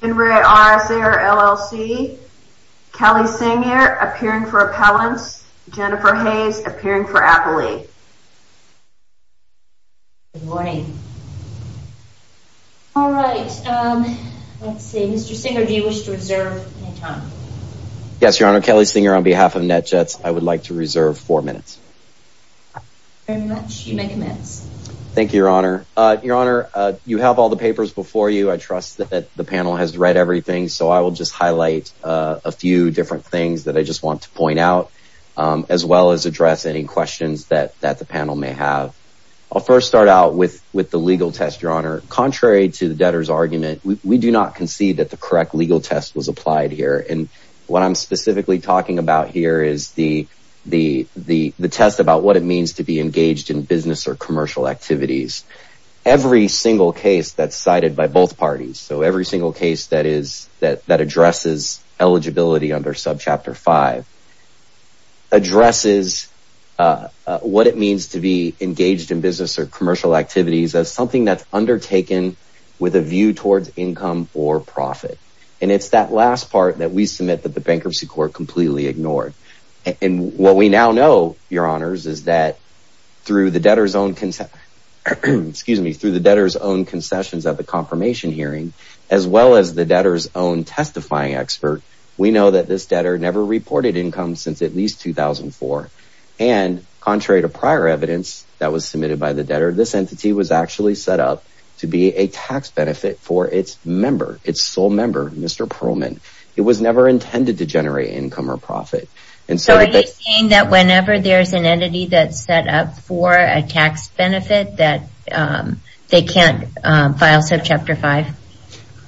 In re RS AIR, LLC, Kelly Singer appearing for appellants, Jennifer Hayes appearing for appellee. Good morning. All right. Let's see, Mr. Singer, do you wish to reserve any time? Yes, Your Honor, Kelly Singer on behalf of NetJets, I would like to reserve four minutes. Very much, you may commence. Thank you, Your Honor. Your Honor, you have all the papers before you. I trust that the panel has read everything, so I will just highlight a few different things that I just want to point out, as well as address any questions that the panel may have. I'll first start out with the legal test, Your Honor. Contrary to the debtor's argument, we do not concede that the correct legal test was applied here. And what I'm specifically talking about here is the test about what it means to be engaged in business or commercial activities. Every single case that's cited by both parties, so every single case that addresses eligibility under subchapter five, addresses what it means to be engaged in business or commercial activities as something that's undertaken with a view towards income or profit. And it's that last part that we submit that the bankruptcy court completely ignored. And what we now know, Your Honors, is that through the debtor's own concessions of the confirmation hearing, as well as the debtor's own testifying expert, we know that this debtor never reported income since at least 2004. And contrary to prior evidence that was submitted by the debtor, this entity was actually set up to be a tax benefit for its member, its sole member, Mr. Pearlman. It was never intended to generate income or profit. So are you saying that whenever there's an entity that's set up for a tax benefit that they can't file subchapter five?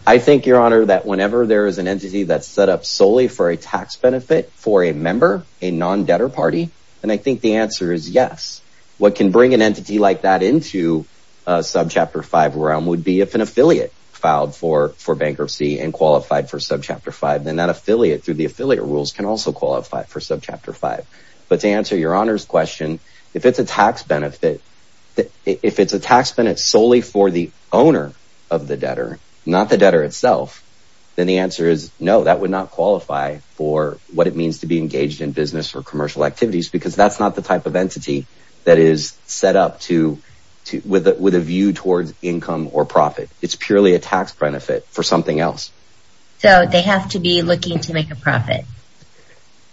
I think, Your Honor, that whenever there is an entity that's set up solely for a tax benefit for a member, a non-debtor party, then I think the answer is yes. What can bring an entity like that into subchapter five realm would be if an affiliate filed for bankruptcy and qualified for subchapter five, then that affiliate through the affiliate rules can also qualify for subchapter five. But to answer Your Honor's question, if it's a tax benefit, if it's a tax benefit solely for the owner of the debtor, not the debtor itself, then the answer is no, that would not qualify for what it means to be engaged in business or commercial activities because that's not the type of entity that is set up with a view towards income or profit. It's purely a tax benefit for something else. So they have to be looking to make a profit.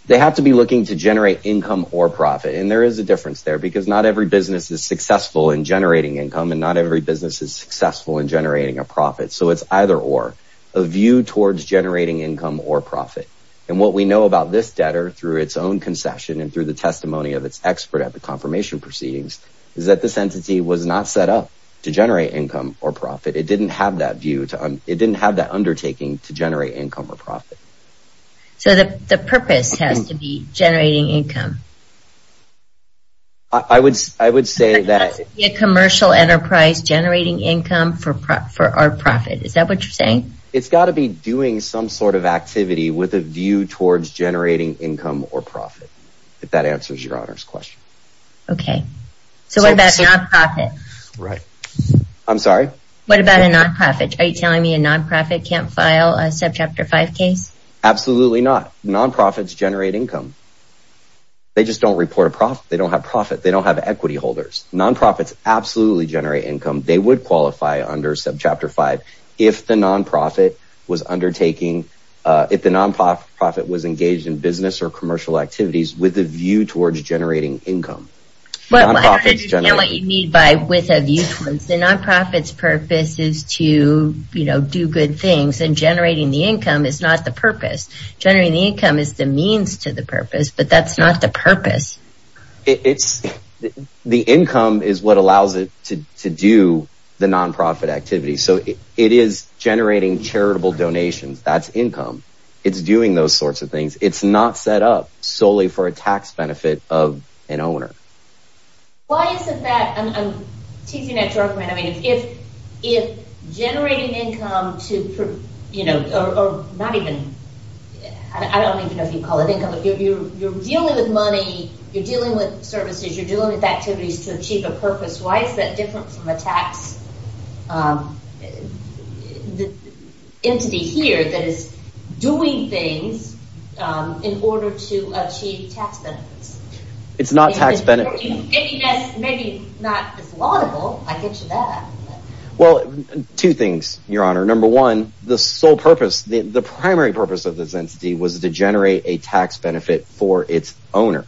They have to be looking to generate income or profit. And there is a difference there because not every business is successful in generating income and not every business is successful in generating a profit. So it's either or a view towards generating income or profit. And what we know about this debtor through its own concession and through the testimony of its expert at the confirmation proceedings is that this entity was not set up to generate income or profit. It didn't have that view, it didn't have that undertaking to generate income or profit. So the purpose has to be generating income. I would say that. It has to be a commercial enterprise generating income for our profit. Is that what you're saying? It's got to be doing some sort of activity with a view towards generating income or profit if that answers Your Honor's question. Okay. So what about non-profit? Right. I'm sorry? What about a non-profit? Are you telling me a non-profit can't file a Subchapter 5 case? Absolutely not. Non-profits generate income. They just don't report a profit. They don't have profit. They don't have equity holders. Non-profits absolutely generate income. They would qualify under Subchapter 5 if the non-profit was undertaking, if the non-profit was engaged in business or commercial activities with a view towards generating income. I don't understand what you mean by with a view towards. The non-profit's purpose is to, you know, do good things and generating the income is not the purpose. Generating the income is the means to the purpose, but that's not the purpose. The income is what allows it to do the non-profit activity. So it is generating charitable donations. That's income. It's doing those sorts of things. It's not set up solely for a tax benefit of an owner. Why is it that, I'm teasing at Jorgeman, I mean, if generating income to, you know, or not even, I don't even know if you'd call it income, if you're dealing with money, you're dealing with services, you're dealing with activities to achieve a purpose, why is that different from a tax entity here that is doing things in order to achieve tax benefits? It's not tax benefit. If that's maybe not as laudable, I get you that. Well, two things, your honor. Number one, the sole purpose, the primary purpose of this entity was to generate a tax benefit for its owner,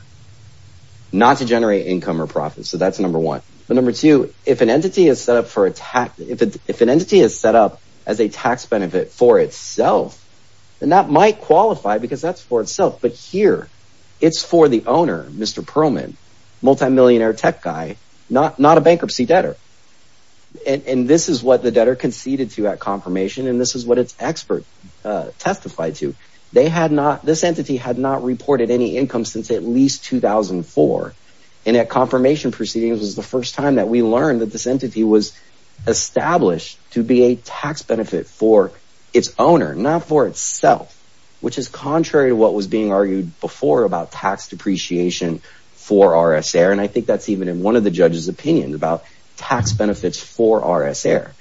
not to generate income or profit. So that's number one. But number two, if an entity is set up for a tax, if an entity is set up as a tax benefit for itself, then that might qualify because that's for itself. But here it's for the owner, Mr. Perlman, multi-millionaire tech guy, not a bankruptcy debtor. And this is what the debtor conceded to at confirmation. And this is what its expert testified to. They had not this entity had not reported any income since at least 2004. And at confirmation proceedings was the first time that we learned that this entity was established to be a tax benefit for its owner, not for itself, which is contrary to what was being argued before about tax depreciation for RSA. And I think that's even in one of the judge's opinion about tax benefits for RSA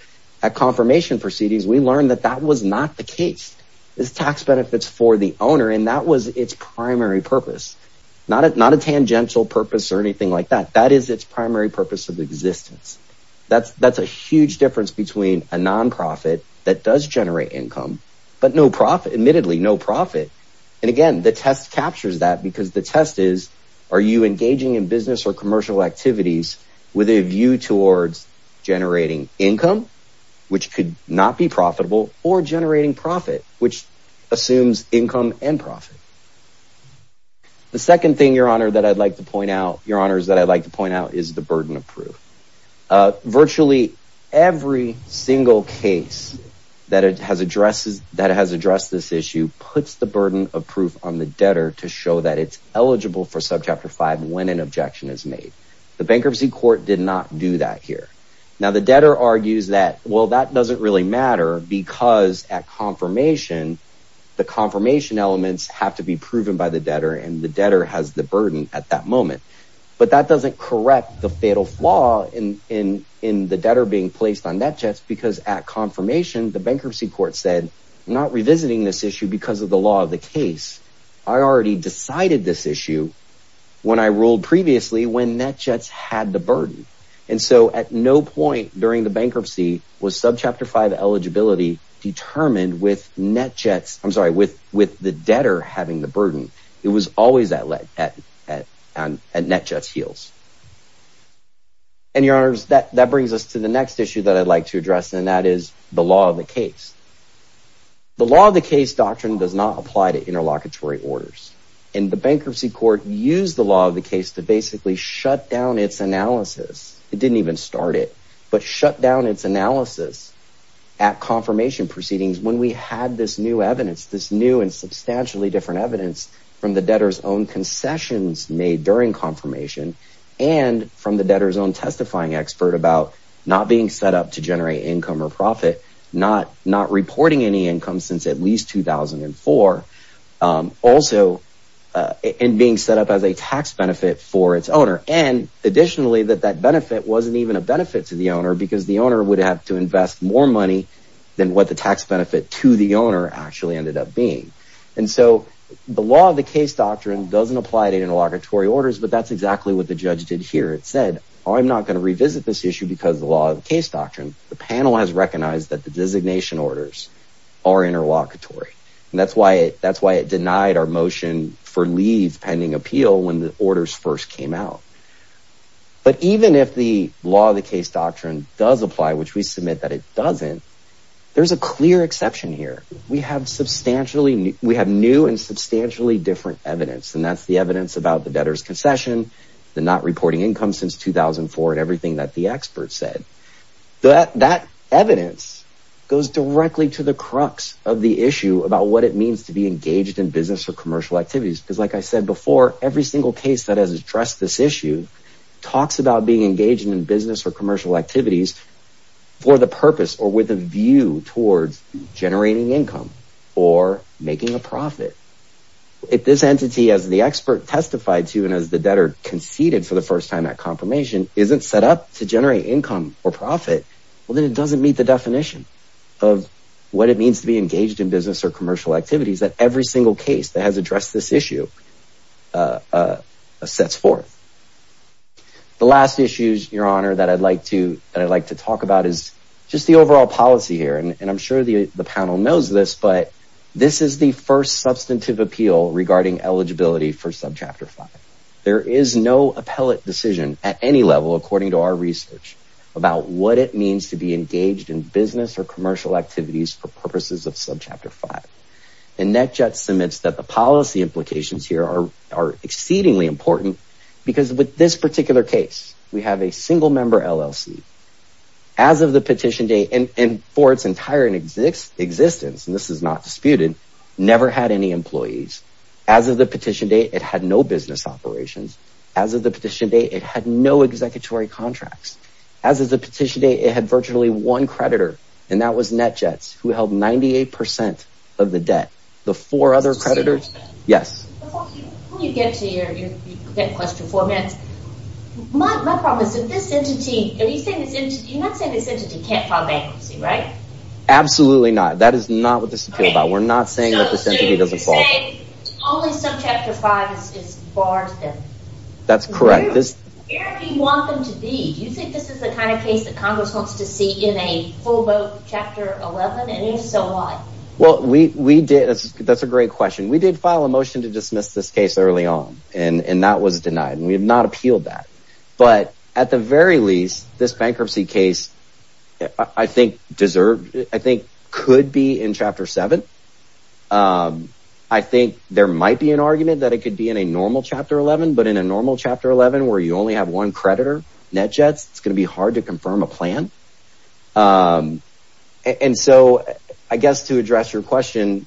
at confirmation proceedings. We learned that that was not the case is tax benefits for the purpose or anything like that. That is its primary purpose of existence. That's that's a huge difference between a nonprofit that does generate income, but no profit, admittedly no profit. And again, the test captures that because the test is, are you engaging in business or commercial activities with a view towards generating income, which could not be profitable or generating profit, which assumes income and profit? The second thing, your honor, that I'd like to point out, your honors, that I'd like to point out is the burden of proof. Virtually every single case that it has addresses that has addressed this issue puts the burden of proof on the debtor to show that it's eligible for subchapter five when an objection is made. The bankruptcy court did not do that here. Now, the debtor argues that, well, that doesn't really matter because at confirmation, the confirmation elements have to be proven by the debtor and the debtor has the burden at that moment. But that doesn't correct the fatal flaw in in in the debtor being placed on that just because at confirmation, the bankruptcy court said not revisiting this issue because of the law of the case. I already decided this issue when I ruled previously when that just had the burden. And so at no point during the bankruptcy was subchapter five eligibility determined with Jets. I'm sorry, with with the debtor having the burden, it was always that led at and and that just heals. And your honors, that that brings us to the next issue that I'd like to address, and that is the law of the case. The law of the case doctrine does not apply to interlocutory orders in the bankruptcy court, use the law of the case to basically shut down its analysis. It didn't even start it, but shut down its analysis at confirmation proceedings when we had this new evidence, this new and substantially different evidence from the debtor's own concessions made during confirmation and from the debtor's own testifying expert about not being set up to generate income or profit, not not reporting any income since at least 2004. Also, in being set up as a tax benefit for its owner and additionally, that that benefit wasn't even a benefit to the owner because the owner would have to invest more money than what the tax benefit to the owner actually ended up being. And so the law of the case doctrine doesn't apply to interlocutory orders. But that's exactly what the judge did here. It said, I'm not going to revisit this issue because the law of the case doctrine, the panel has recognized that the designation orders are interlocutory. And that's why that's why it denied our motion for leave pending appeal when the orders first came out. But even if the law of the case doctrine does apply, which we submit that it doesn't, there's a clear exception here. We have substantially we have new and substantially different evidence. And that's the evidence about the debtor's concession, the not reporting income since 2004 and everything that the experts said that that evidence goes directly to the crux of the issue about what it means to be engaged in business or commercial activities. Because like I said before, every single case that has addressed this issue talks about being engaged in business or commercial activities for the purpose or with a view towards generating income or making a profit. If this entity, as the expert testified to and as the debtor conceded for the first time that confirmation isn't set up to generate income or profit, well, then it doesn't meet the definition of what it means to be engaged in business or commercial activities that every single case that has addressed this issue sets forth. The last issues, your honor, that I'd like to I'd like to talk about is just the overall policy here, and I'm sure the panel knows this, but this is the first substantive appeal regarding eligibility for subchapter five. There is no appellate decision at any level, according to our research, about what it means to be engaged in business or commercial activities for purposes of subchapter five. And NetJets submits that the policy implications here are are exceedingly important because with this particular case, we have a single member LLC as of the petition date and for its entire existence, and this is not disputed, never had any employees. As of the petition date, it had no business operations. As of the petition date, it had no executory contracts. As of the petition date, it had virtually one creditor and that was NetJets, who held 98 percent of the debt. The four other creditors. Yes, you get to your question for that. My problem is that this entity, you think this entity, you're not saying this entity can't file bankruptcy, right? Absolutely not. That is not what this is about. We're not saying that this entity doesn't say only subchapter five is barred. That's correct. This you want them to be. Do you think this is the kind of case that Congress wants to see in a full vote? Chapter 11. And if so, why? Well, we did. That's a great question. We did file a motion to dismiss this case early on and that was denied and we have not appealed that. But at the very least, this bankruptcy case, I think deserved, I think could be in chapter seven. I think there might be an argument that it could be in a normal chapter 11, but in a normal chapter 11, where you only have one creditor, NetJets, it's going to be hard to confirm a plan. And so I guess to address your question,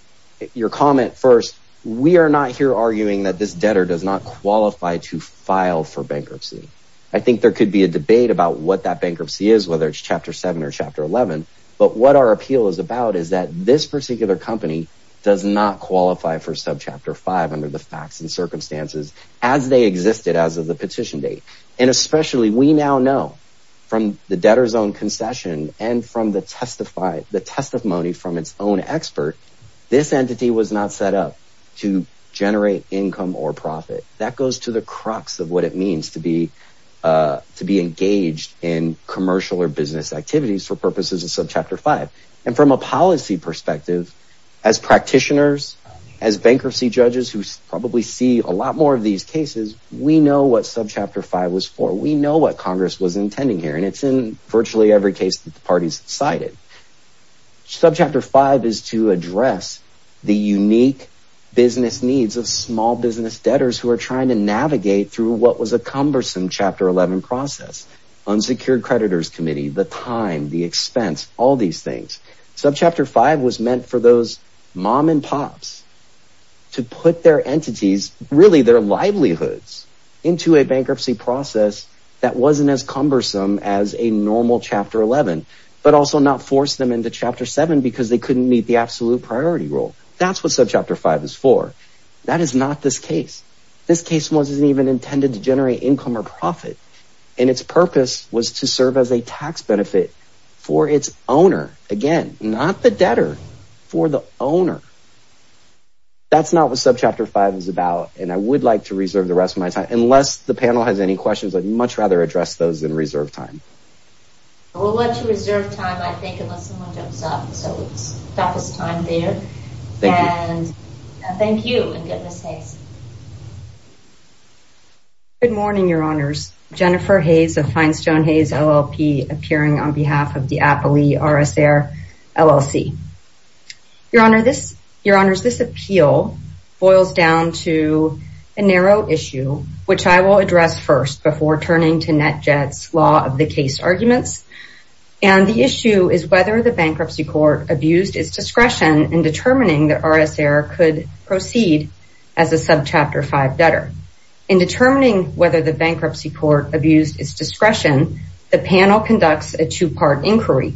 your comment first, we are not here arguing that this debtor does not qualify to file for bankruptcy. I think there could be a debate about what that bankruptcy is, whether it's chapter seven or chapter 11. But what our appeal is about is that this particular company does not qualify for subchapter five under the facts and circumstances as they existed as of the petition mandate. And especially we now know from the debtor's own concession and from the testify, the testimony from its own expert, this entity was not set up to generate income or profit that goes to the crux of what it means to be to be engaged in commercial or business activities for purposes of subchapter five. And from a policy perspective, as practitioners, as bankruptcy judges who probably see a lot more of these cases, we know what subchapter five was for. We know what Congress was intending here. And it's in virtually every case that the parties cited. Subchapter five is to address the unique business needs of small business debtors who are trying to navigate through what was a cumbersome chapter 11 process, unsecured creditors committee, the time, the expense, all these things. Subchapter five was meant for those mom and pops to put their entities, really their livelihoods into a bankruptcy process that wasn't as cumbersome as a normal chapter 11, but also not force them into chapter seven because they couldn't meet the absolute priority role. That's what subchapter five is for. That is not this case. This case wasn't even intended to generate income or profit. And its purpose was to serve as a tax benefit for its owner, again, not the debtor, for the owner. That's not what subchapter five is about, and I would like to reserve the rest of my time unless the panel has any questions, I'd much rather address those in reserve time. We'll let you reserve time, I think, unless someone jumps up. So it's toughest time there. And thank you and goodness sakes. Good morning, Your Honors. Jennifer Hayes of Finestone Hayes, LLP, appearing on behalf of the Appley RSAIR LLC. Your Honor, this, Your Honors, this appeal boils down to a narrow issue, which I will address first before turning to NetJet's law of the case arguments. And the issue is whether the bankruptcy court abused its discretion in determining that subchapter five debtor. In determining whether the bankruptcy court abused its discretion, the panel conducts a two part inquiry.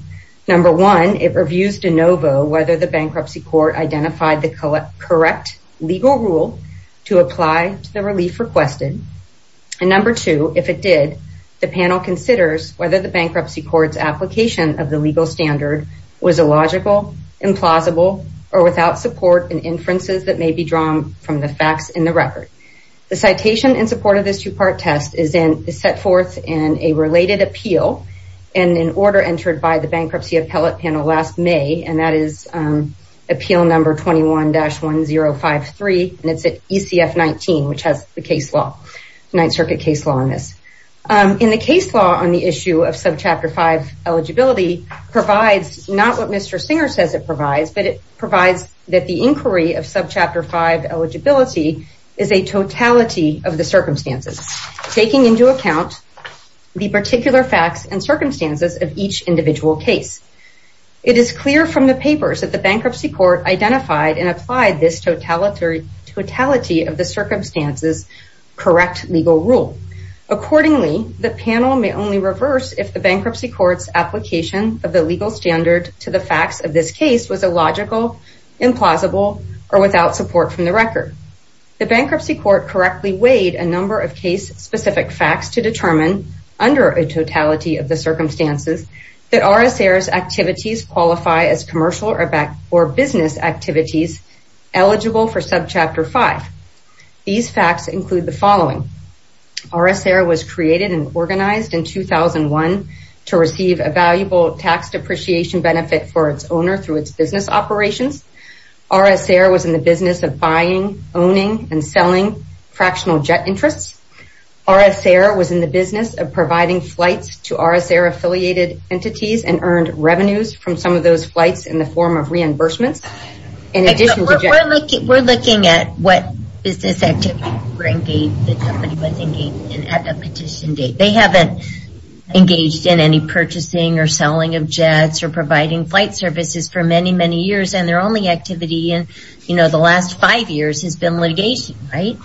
Number one, it reviews de novo whether the bankruptcy court identified the correct legal rule to apply to the relief requested. And number two, if it did, the panel considers whether the bankruptcy court's application of the legal standard was illogical, implausible, or without support and inferences that the facts in the record. The citation in support of this two part test is set forth in a related appeal and an order entered by the bankruptcy appellate panel last May. And that is Appeal Number 21-1053, and it's at ECF 19, which has the case law, Ninth Circuit case law on this. In the case law on the issue of subchapter five eligibility provides not what Mr. Singer says it provides, but it provides that the inquiry of subchapter five eligibility is a totality of the circumstances, taking into account the particular facts and circumstances of each individual case. It is clear from the papers that the bankruptcy court identified and applied this totality of the circumstances correct legal rule. Accordingly, the panel may only reverse if the bankruptcy court's application of the legal standard to the facts of this case was illogical, implausible, or without support from the record. The bankruptcy court correctly weighed a number of case specific facts to determine under a totality of the circumstances that RSA activities qualify as commercial or business activities eligible for subchapter five. These facts include the following. RSA was created and organized in 2001 to receive a valuable tax depreciation benefit for its owner through its business operations. RSA was in the business of buying, owning, and selling fractional jet interests. RSA was in the business of providing flights to RSA affiliated entities and earned revenues from some of those flights in the form of reimbursements. We're looking at what business activities were engaged that somebody was engaged in at the petition date. They haven't engaged in any purchasing or selling of jets or providing flight services for many, many years. And their only activity in the last five years has been litigation, right?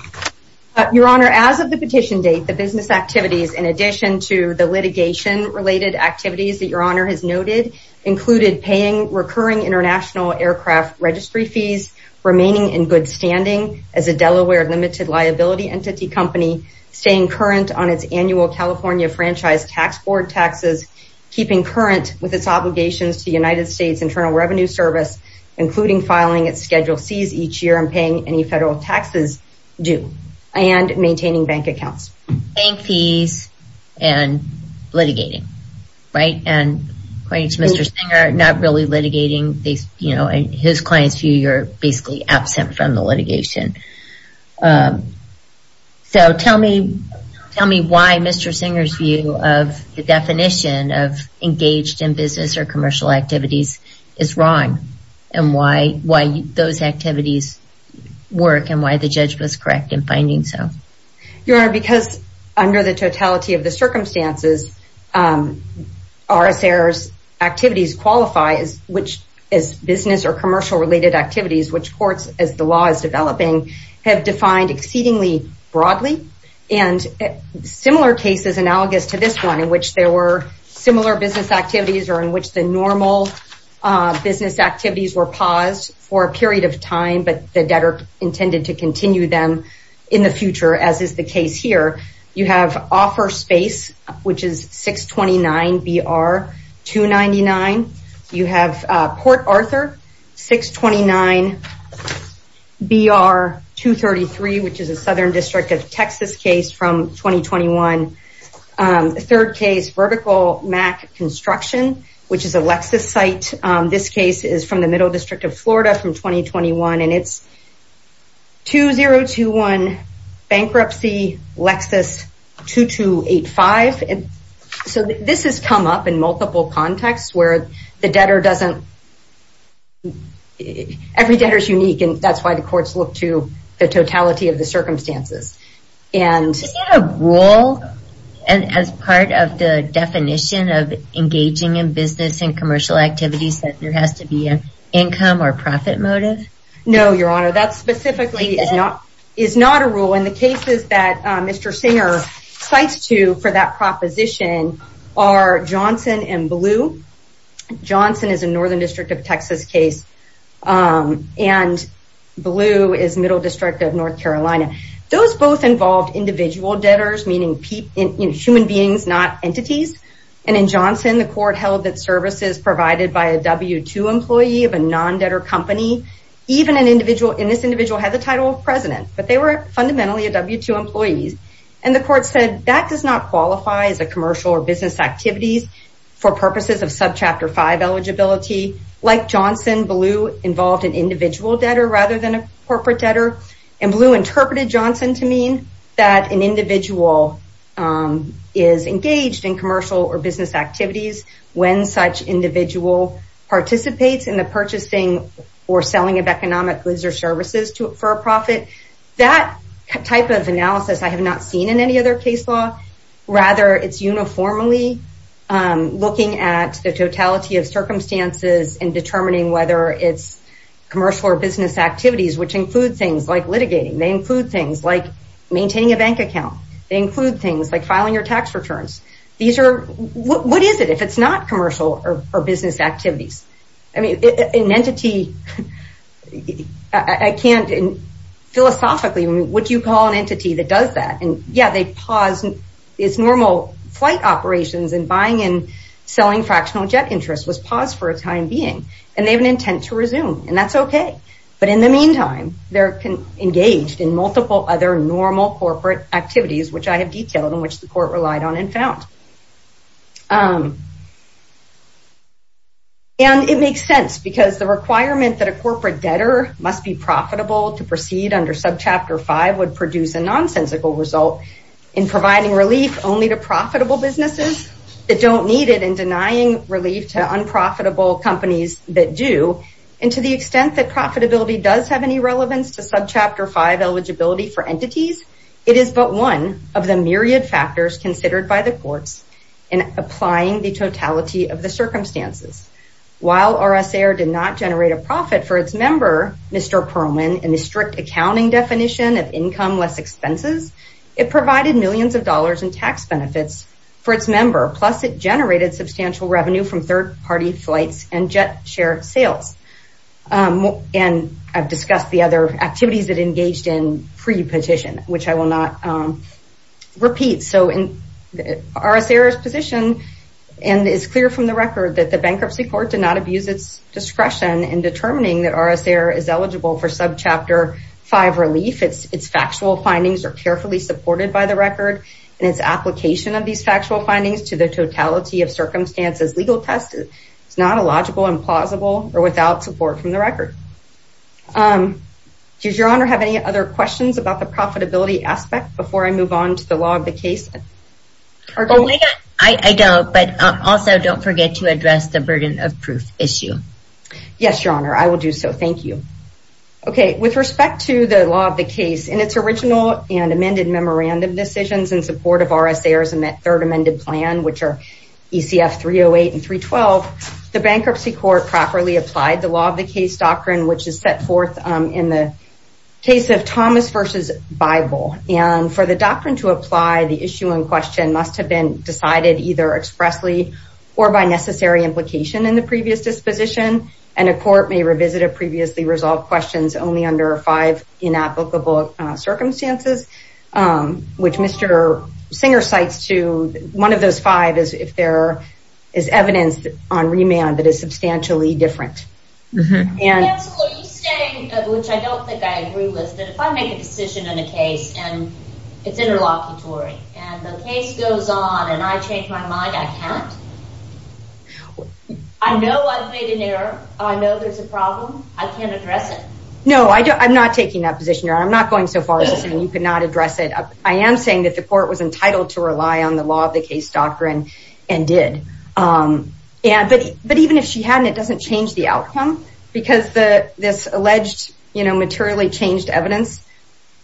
Your Honor, as of the petition date, the business activities, in addition to the litigation related activities that included paying recurring international aircraft registry fees, remaining in good standing as a Delaware Limited Liability Entity Company, staying current on its annual California Franchise Tax Board taxes, keeping current with its obligations to the United States Internal Revenue Service, including filing its schedule C's each year and paying any federal taxes due, and maintaining bank accounts. Paying fees and litigating, right? And according to Mr. Singer, not really litigating, you know, in his client's view, you're basically absent from the litigation. So tell me, tell me why Mr. Singer's view of the definition of engaged in business or commercial activities is wrong? And why, why those activities work and why the judge was correct in finding so? Your Honor, because under the totality of the circumstances, RSA activities qualify as business or commercial related activities, which courts, as the law is developing, have defined exceedingly broadly and similar cases analogous to this one in which there were similar business activities or in which the normal business activities were paused for a period of time, or as is the case here, you have Offer Space, which is 629-BR-299, you have Port Arthur, 629-BR-233, which is a Southern District of Texas case from 2021. Third case, Vertical Mack Construction, which is a Lexus site. This case is from the Middle District of Florida from 2021. And it's 2021 Bankruptcy, Lexus 2285. And so this has come up in multiple contexts where the debtor doesn't, every debtor is unique. And that's why the courts look to the totality of the circumstances. Is that a rule as part of the definition of engaging in business and commercial activities that there has to be an income or profit motive? No, Your Honor, that specifically is not a rule. And the cases that Mr. Singer cites to for that proposition are Johnson and Blue. Johnson is a Northern District of Texas case. And Blue is Middle District of North Carolina. Those both involved individual debtors, meaning human beings, not entities. And in Johnson, the court held that services provided by a W-2 employee of a non-debtor company, even an individual, and this individual had the title of president, but they were fundamentally W-2 employees. And the court said that does not qualify as a commercial or business activities for purposes of Subchapter 5 eligibility. Like Johnson, Blue involved an individual debtor rather than a corporate debtor. And Blue interpreted Johnson to mean that an individual is engaged in commercial or business activities when such individual participates in the purchasing or selling of economic goods or services for a profit. That type of analysis I have not seen in any other case law. Rather, it's uniformly looking at the totality of circumstances and determining whether it's commercial or business activities, which include things like litigating. They include things like maintaining a bank account. They include things like filing your tax returns. These are, what is it if it's not commercial or business activities? I mean, an entity, I can't, philosophically, what do you call an entity that does that? And yeah, they pause, it's normal flight operations and buying and selling fractional jet interest was paused for a time being. And they have an intent to resume, and that's OK. But in the meantime, they're engaged in multiple other normal corporate activities, which I have detailed and which the court relied on and found. And it makes sense because the requirement that a corporate debtor must be profitable to proceed under subchapter five would produce a nonsensical result in providing relief only to profitable businesses that don't need it and denying relief to unprofitable companies that do. And to the extent that profitability does have any relevance to subchapter five eligibility for entities, it is but one of the myriad factors considered by the courts in applying the totality of the circumstances. While RSA did not generate a profit for its member, Mr. Perlman, in the strict accounting definition of income less expenses, it provided millions of dollars in tax benefits for its member. Plus, it generated substantial revenue from third party flights and jet share sales. And I've discussed the other activities that engaged in pre-petition, which I will not repeat. So in RSA's position and it's clear from the record that the bankruptcy court did not abuse its discretion in determining that RSA is eligible for subchapter five relief. Its factual findings are carefully supported by the record and its application of these factual findings to the totality of circumstances legal test is not illogical, implausible or without support from the record. Does your honor have any other questions about the profitability aspect before I move on to the law of the case? I don't, but also don't forget to address the burden of proof issue. Yes, your honor. I will do so. Thank you. OK, with respect to the law of the case in its original and amended memorandum decisions in support of RSA's third amended plan, which are ECF 308 and 312, the bankruptcy court properly applied the law of the case doctrine, which is set forth in the case of Thomas versus Bible. And for the doctrine to apply, the issue in question must have been decided either expressly or by necessary implication in the previous disposition. And a court may revisit a previously resolved questions only under five inapplicable circumstances, which Mr. Singer cites to one of those five is if there is evidence on remand that is substantially different. And you say, which I don't think I agree with, that if I make a decision in a case and it's interlocutory and the case goes on and I change my mind, I can't. I know I've made an error. I know there's a problem. I can't address it. No, I'm not taking that position. I'm not going so far as saying you could not address it. I am saying that the court was entitled to rely on the law of the case doctrine and did. And but but even if she hadn't, it doesn't change the outcome because the this alleged, you know, materially changed evidence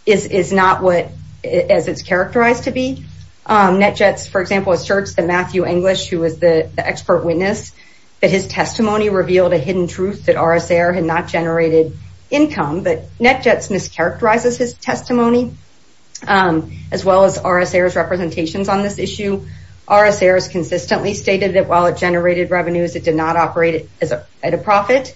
is not what as it's characterized to be. NetJets, for example, asserts that Matthew English, who was the expert witness, that his testimony revealed a hidden truth that RSA had not generated income. But NetJets mischaracterizes his testimony as well as RSA's representations on this issue. RSA has consistently stated that while it generated revenues, it did not operate at a profit.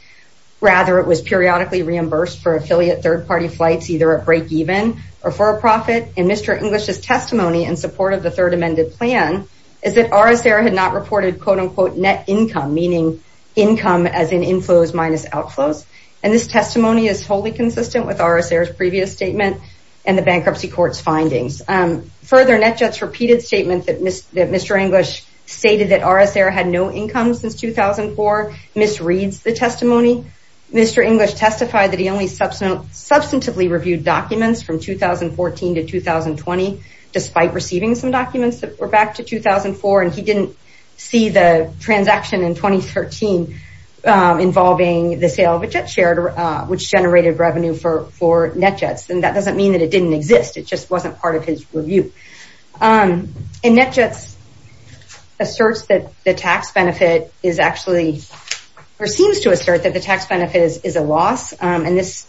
Rather, it was periodically reimbursed for affiliate third party flights, either a break even or for a profit. And Mr. English's testimony in support of the third amended plan is that RSA had not reported, quote unquote, net income, meaning income as in inflows minus outflows. And this testimony is wholly consistent with RSA's previous statement and the bankruptcy court's findings. Further, NetJets' repeated statement that Mr. English stated that RSA had no income since 2004 misreads the testimony. Mr. English testified that he only substantively reviewed documents from 2014 to 2020, despite receiving some documents that were back to 2004. And he didn't see the transaction in 2013 involving the sale of a jet share, which generated revenue for NetJets. And that doesn't mean that it didn't exist. It just wasn't part of his review. And NetJets asserts that the tax benefit is actually or seems to assert that the tax benefit is a loss. And this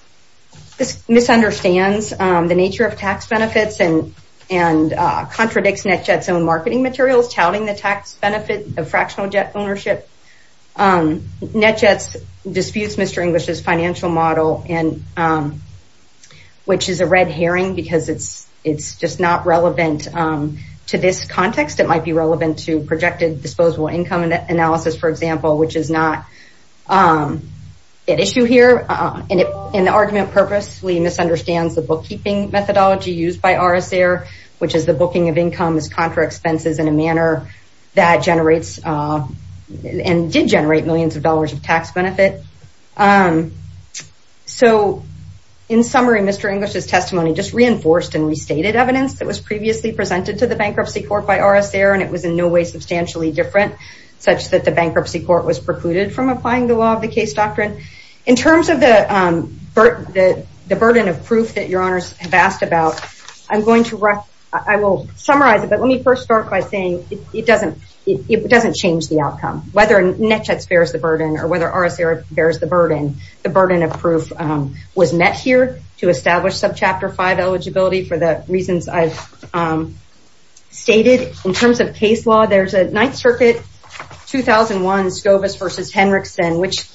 this misunderstands the nature of tax benefits and and contradicts NetJets' own marketing materials, touting the tax benefit of fractional jet ownership. NetJets disputes Mr. English's financial model and which is a red herring because it's it's just not relevant to this context. It might be relevant to projected disposable income analysis, for example, which is not an issue here. And in the argument purposely misunderstands the bookkeeping methodology used by RSA, which is the booking of income as contra expenses in a manner that generates and did generate millions of dollars of tax benefit. So, in summary, Mr. English's testimony just reinforced and restated evidence that was previously presented to the bankruptcy court by RSA. And it was in no way substantially different such that the bankruptcy court was precluded from applying the law of the case doctrine. In terms of the burden of proof that your honors have asked about, I'm going to I will summarize it. Let me first start by saying it doesn't it doesn't change the outcome, whether NetJets bears the burden or whether RSA bears the burden. The burden of proof was met here to establish subchapter five eligibility for the reasons I've stated in terms of case law. There's a Ninth Circuit 2001 Scovis versus Henrickson, which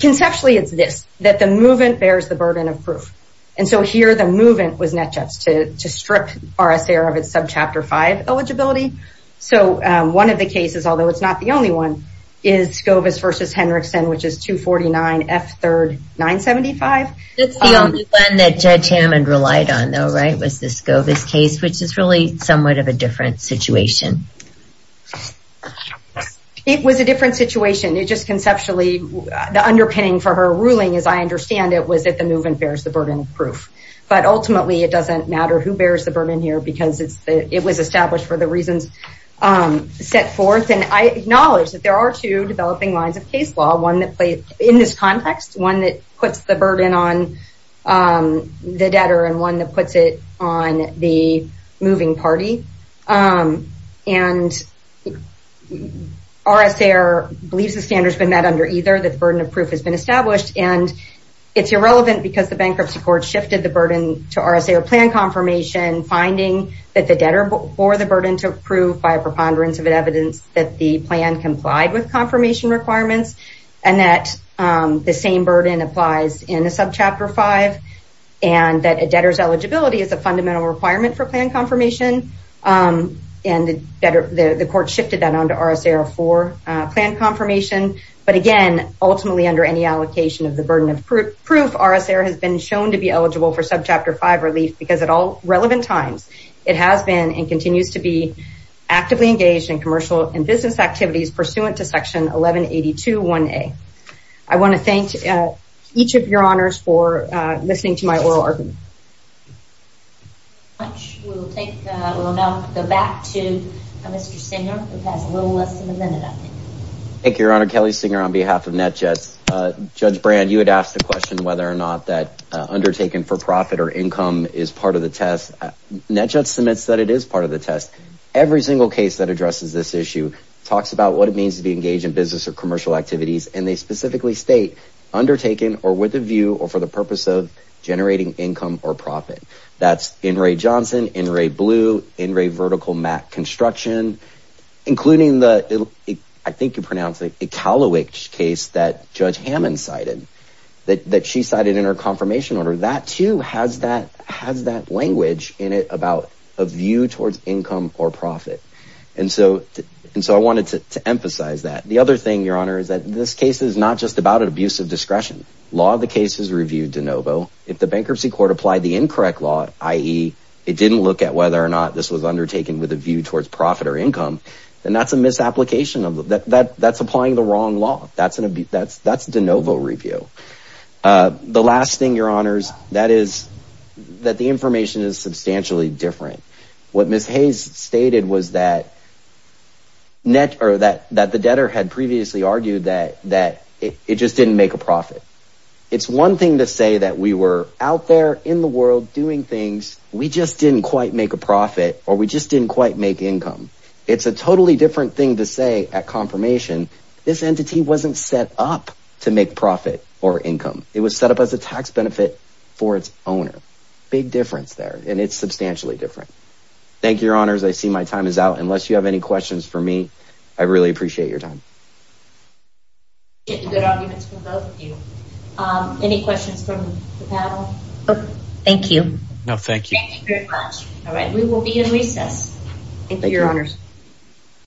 conceptually it's this that the movement bears the burden of proof. And so here the movement was NetJets to strip RSA of its subchapter five eligibility. So one of the cases, although it's not the only one, is Scovis versus Henrickson, which is 249 F third 975. It's the only one that Judge Hammond relied on, though, right, was the Scovis case, which is really somewhat of a different situation. It was a different situation. It just conceptually the underpinning for her ruling, as I understand it, was that the movement bears the burden of proof. But ultimately, it doesn't matter who bears the burden here because it was established for the reasons set forth. And I acknowledge that there are two developing lines of case law, one in this context, one that puts the burden on the debtor and one that puts it on the moving party. And RSA believes the standard has been met under either, that the burden of proof has been established. And it's irrelevant because the bankruptcy court shifted the burden to RSA or plan confirmation, finding that the debtor bore the burden to prove by a preponderance of evidence that the plan complied with confirmation requirements and that the same burden applies in a subchapter five. And that a debtor's eligibility is a fundamental requirement for plan confirmation. And the court shifted that on to RSA for plan confirmation. But again, ultimately, under any allocation of the burden of proof, RSA has been shown to be eligible for subchapter five relief because at all relevant times, it has been and continues to be actively engaged in commercial and business activities pursuant to Section 1182 1A. I want to thank each of your honors for listening to my oral argument. We'll take, we'll now go back to Mr. Singer, who has a little less than a minute, I think. Thank you, Your Honor. Kelly Singer on behalf of NETJETS. Judge Brand, you had asked the question whether or not that undertaking for profit or income is part of the test. NETJETS submits that it is part of the test. Every single case that addresses this issue talks about what it means to be engaged in business or commercial activities. And they specifically state undertaken or with a view or for the purpose of generating income or profit. That's N. Ray Johnson, N. Ray Blue, N. Ray Vertical Matt Construction, including the, I think you pronounce it, Iqaluit case that Judge Hammond cited, that she cited in her confirmation order. That, too, has that has that language in it about a view towards income or profit. And so and so I wanted to emphasize that. The other thing, Your Honor, is that this case is not just about an abuse of discretion. Law of the case is reviewed de novo. If the bankruptcy court applied the incorrect law, i.e. it didn't look at whether or not this was undertaken with a view towards profit or income, then that's a misapplication of that. That's applying the wrong law. That's an abuse. That's that's de novo review. The last thing, Your Honors, that is that the information is substantially different. What Ms. Hayes stated was that. Net or that that the debtor had previously argued that that it just didn't make a profit. It's one thing to say that we were out there in the world doing things, we just didn't quite make a profit or we just didn't quite make income. It's a totally different thing to say at confirmation. This entity wasn't set up to make profit. Or income, it was set up as a tax benefit for its owner. Big difference there. And it's substantially different. Thank you, Your Honors. I see my time is out. Unless you have any questions for me, I really appreciate your time. It's a good argument for both of you. Any questions from the panel? Oh, thank you. All right. We will be in recess. Thank you, Your Honors.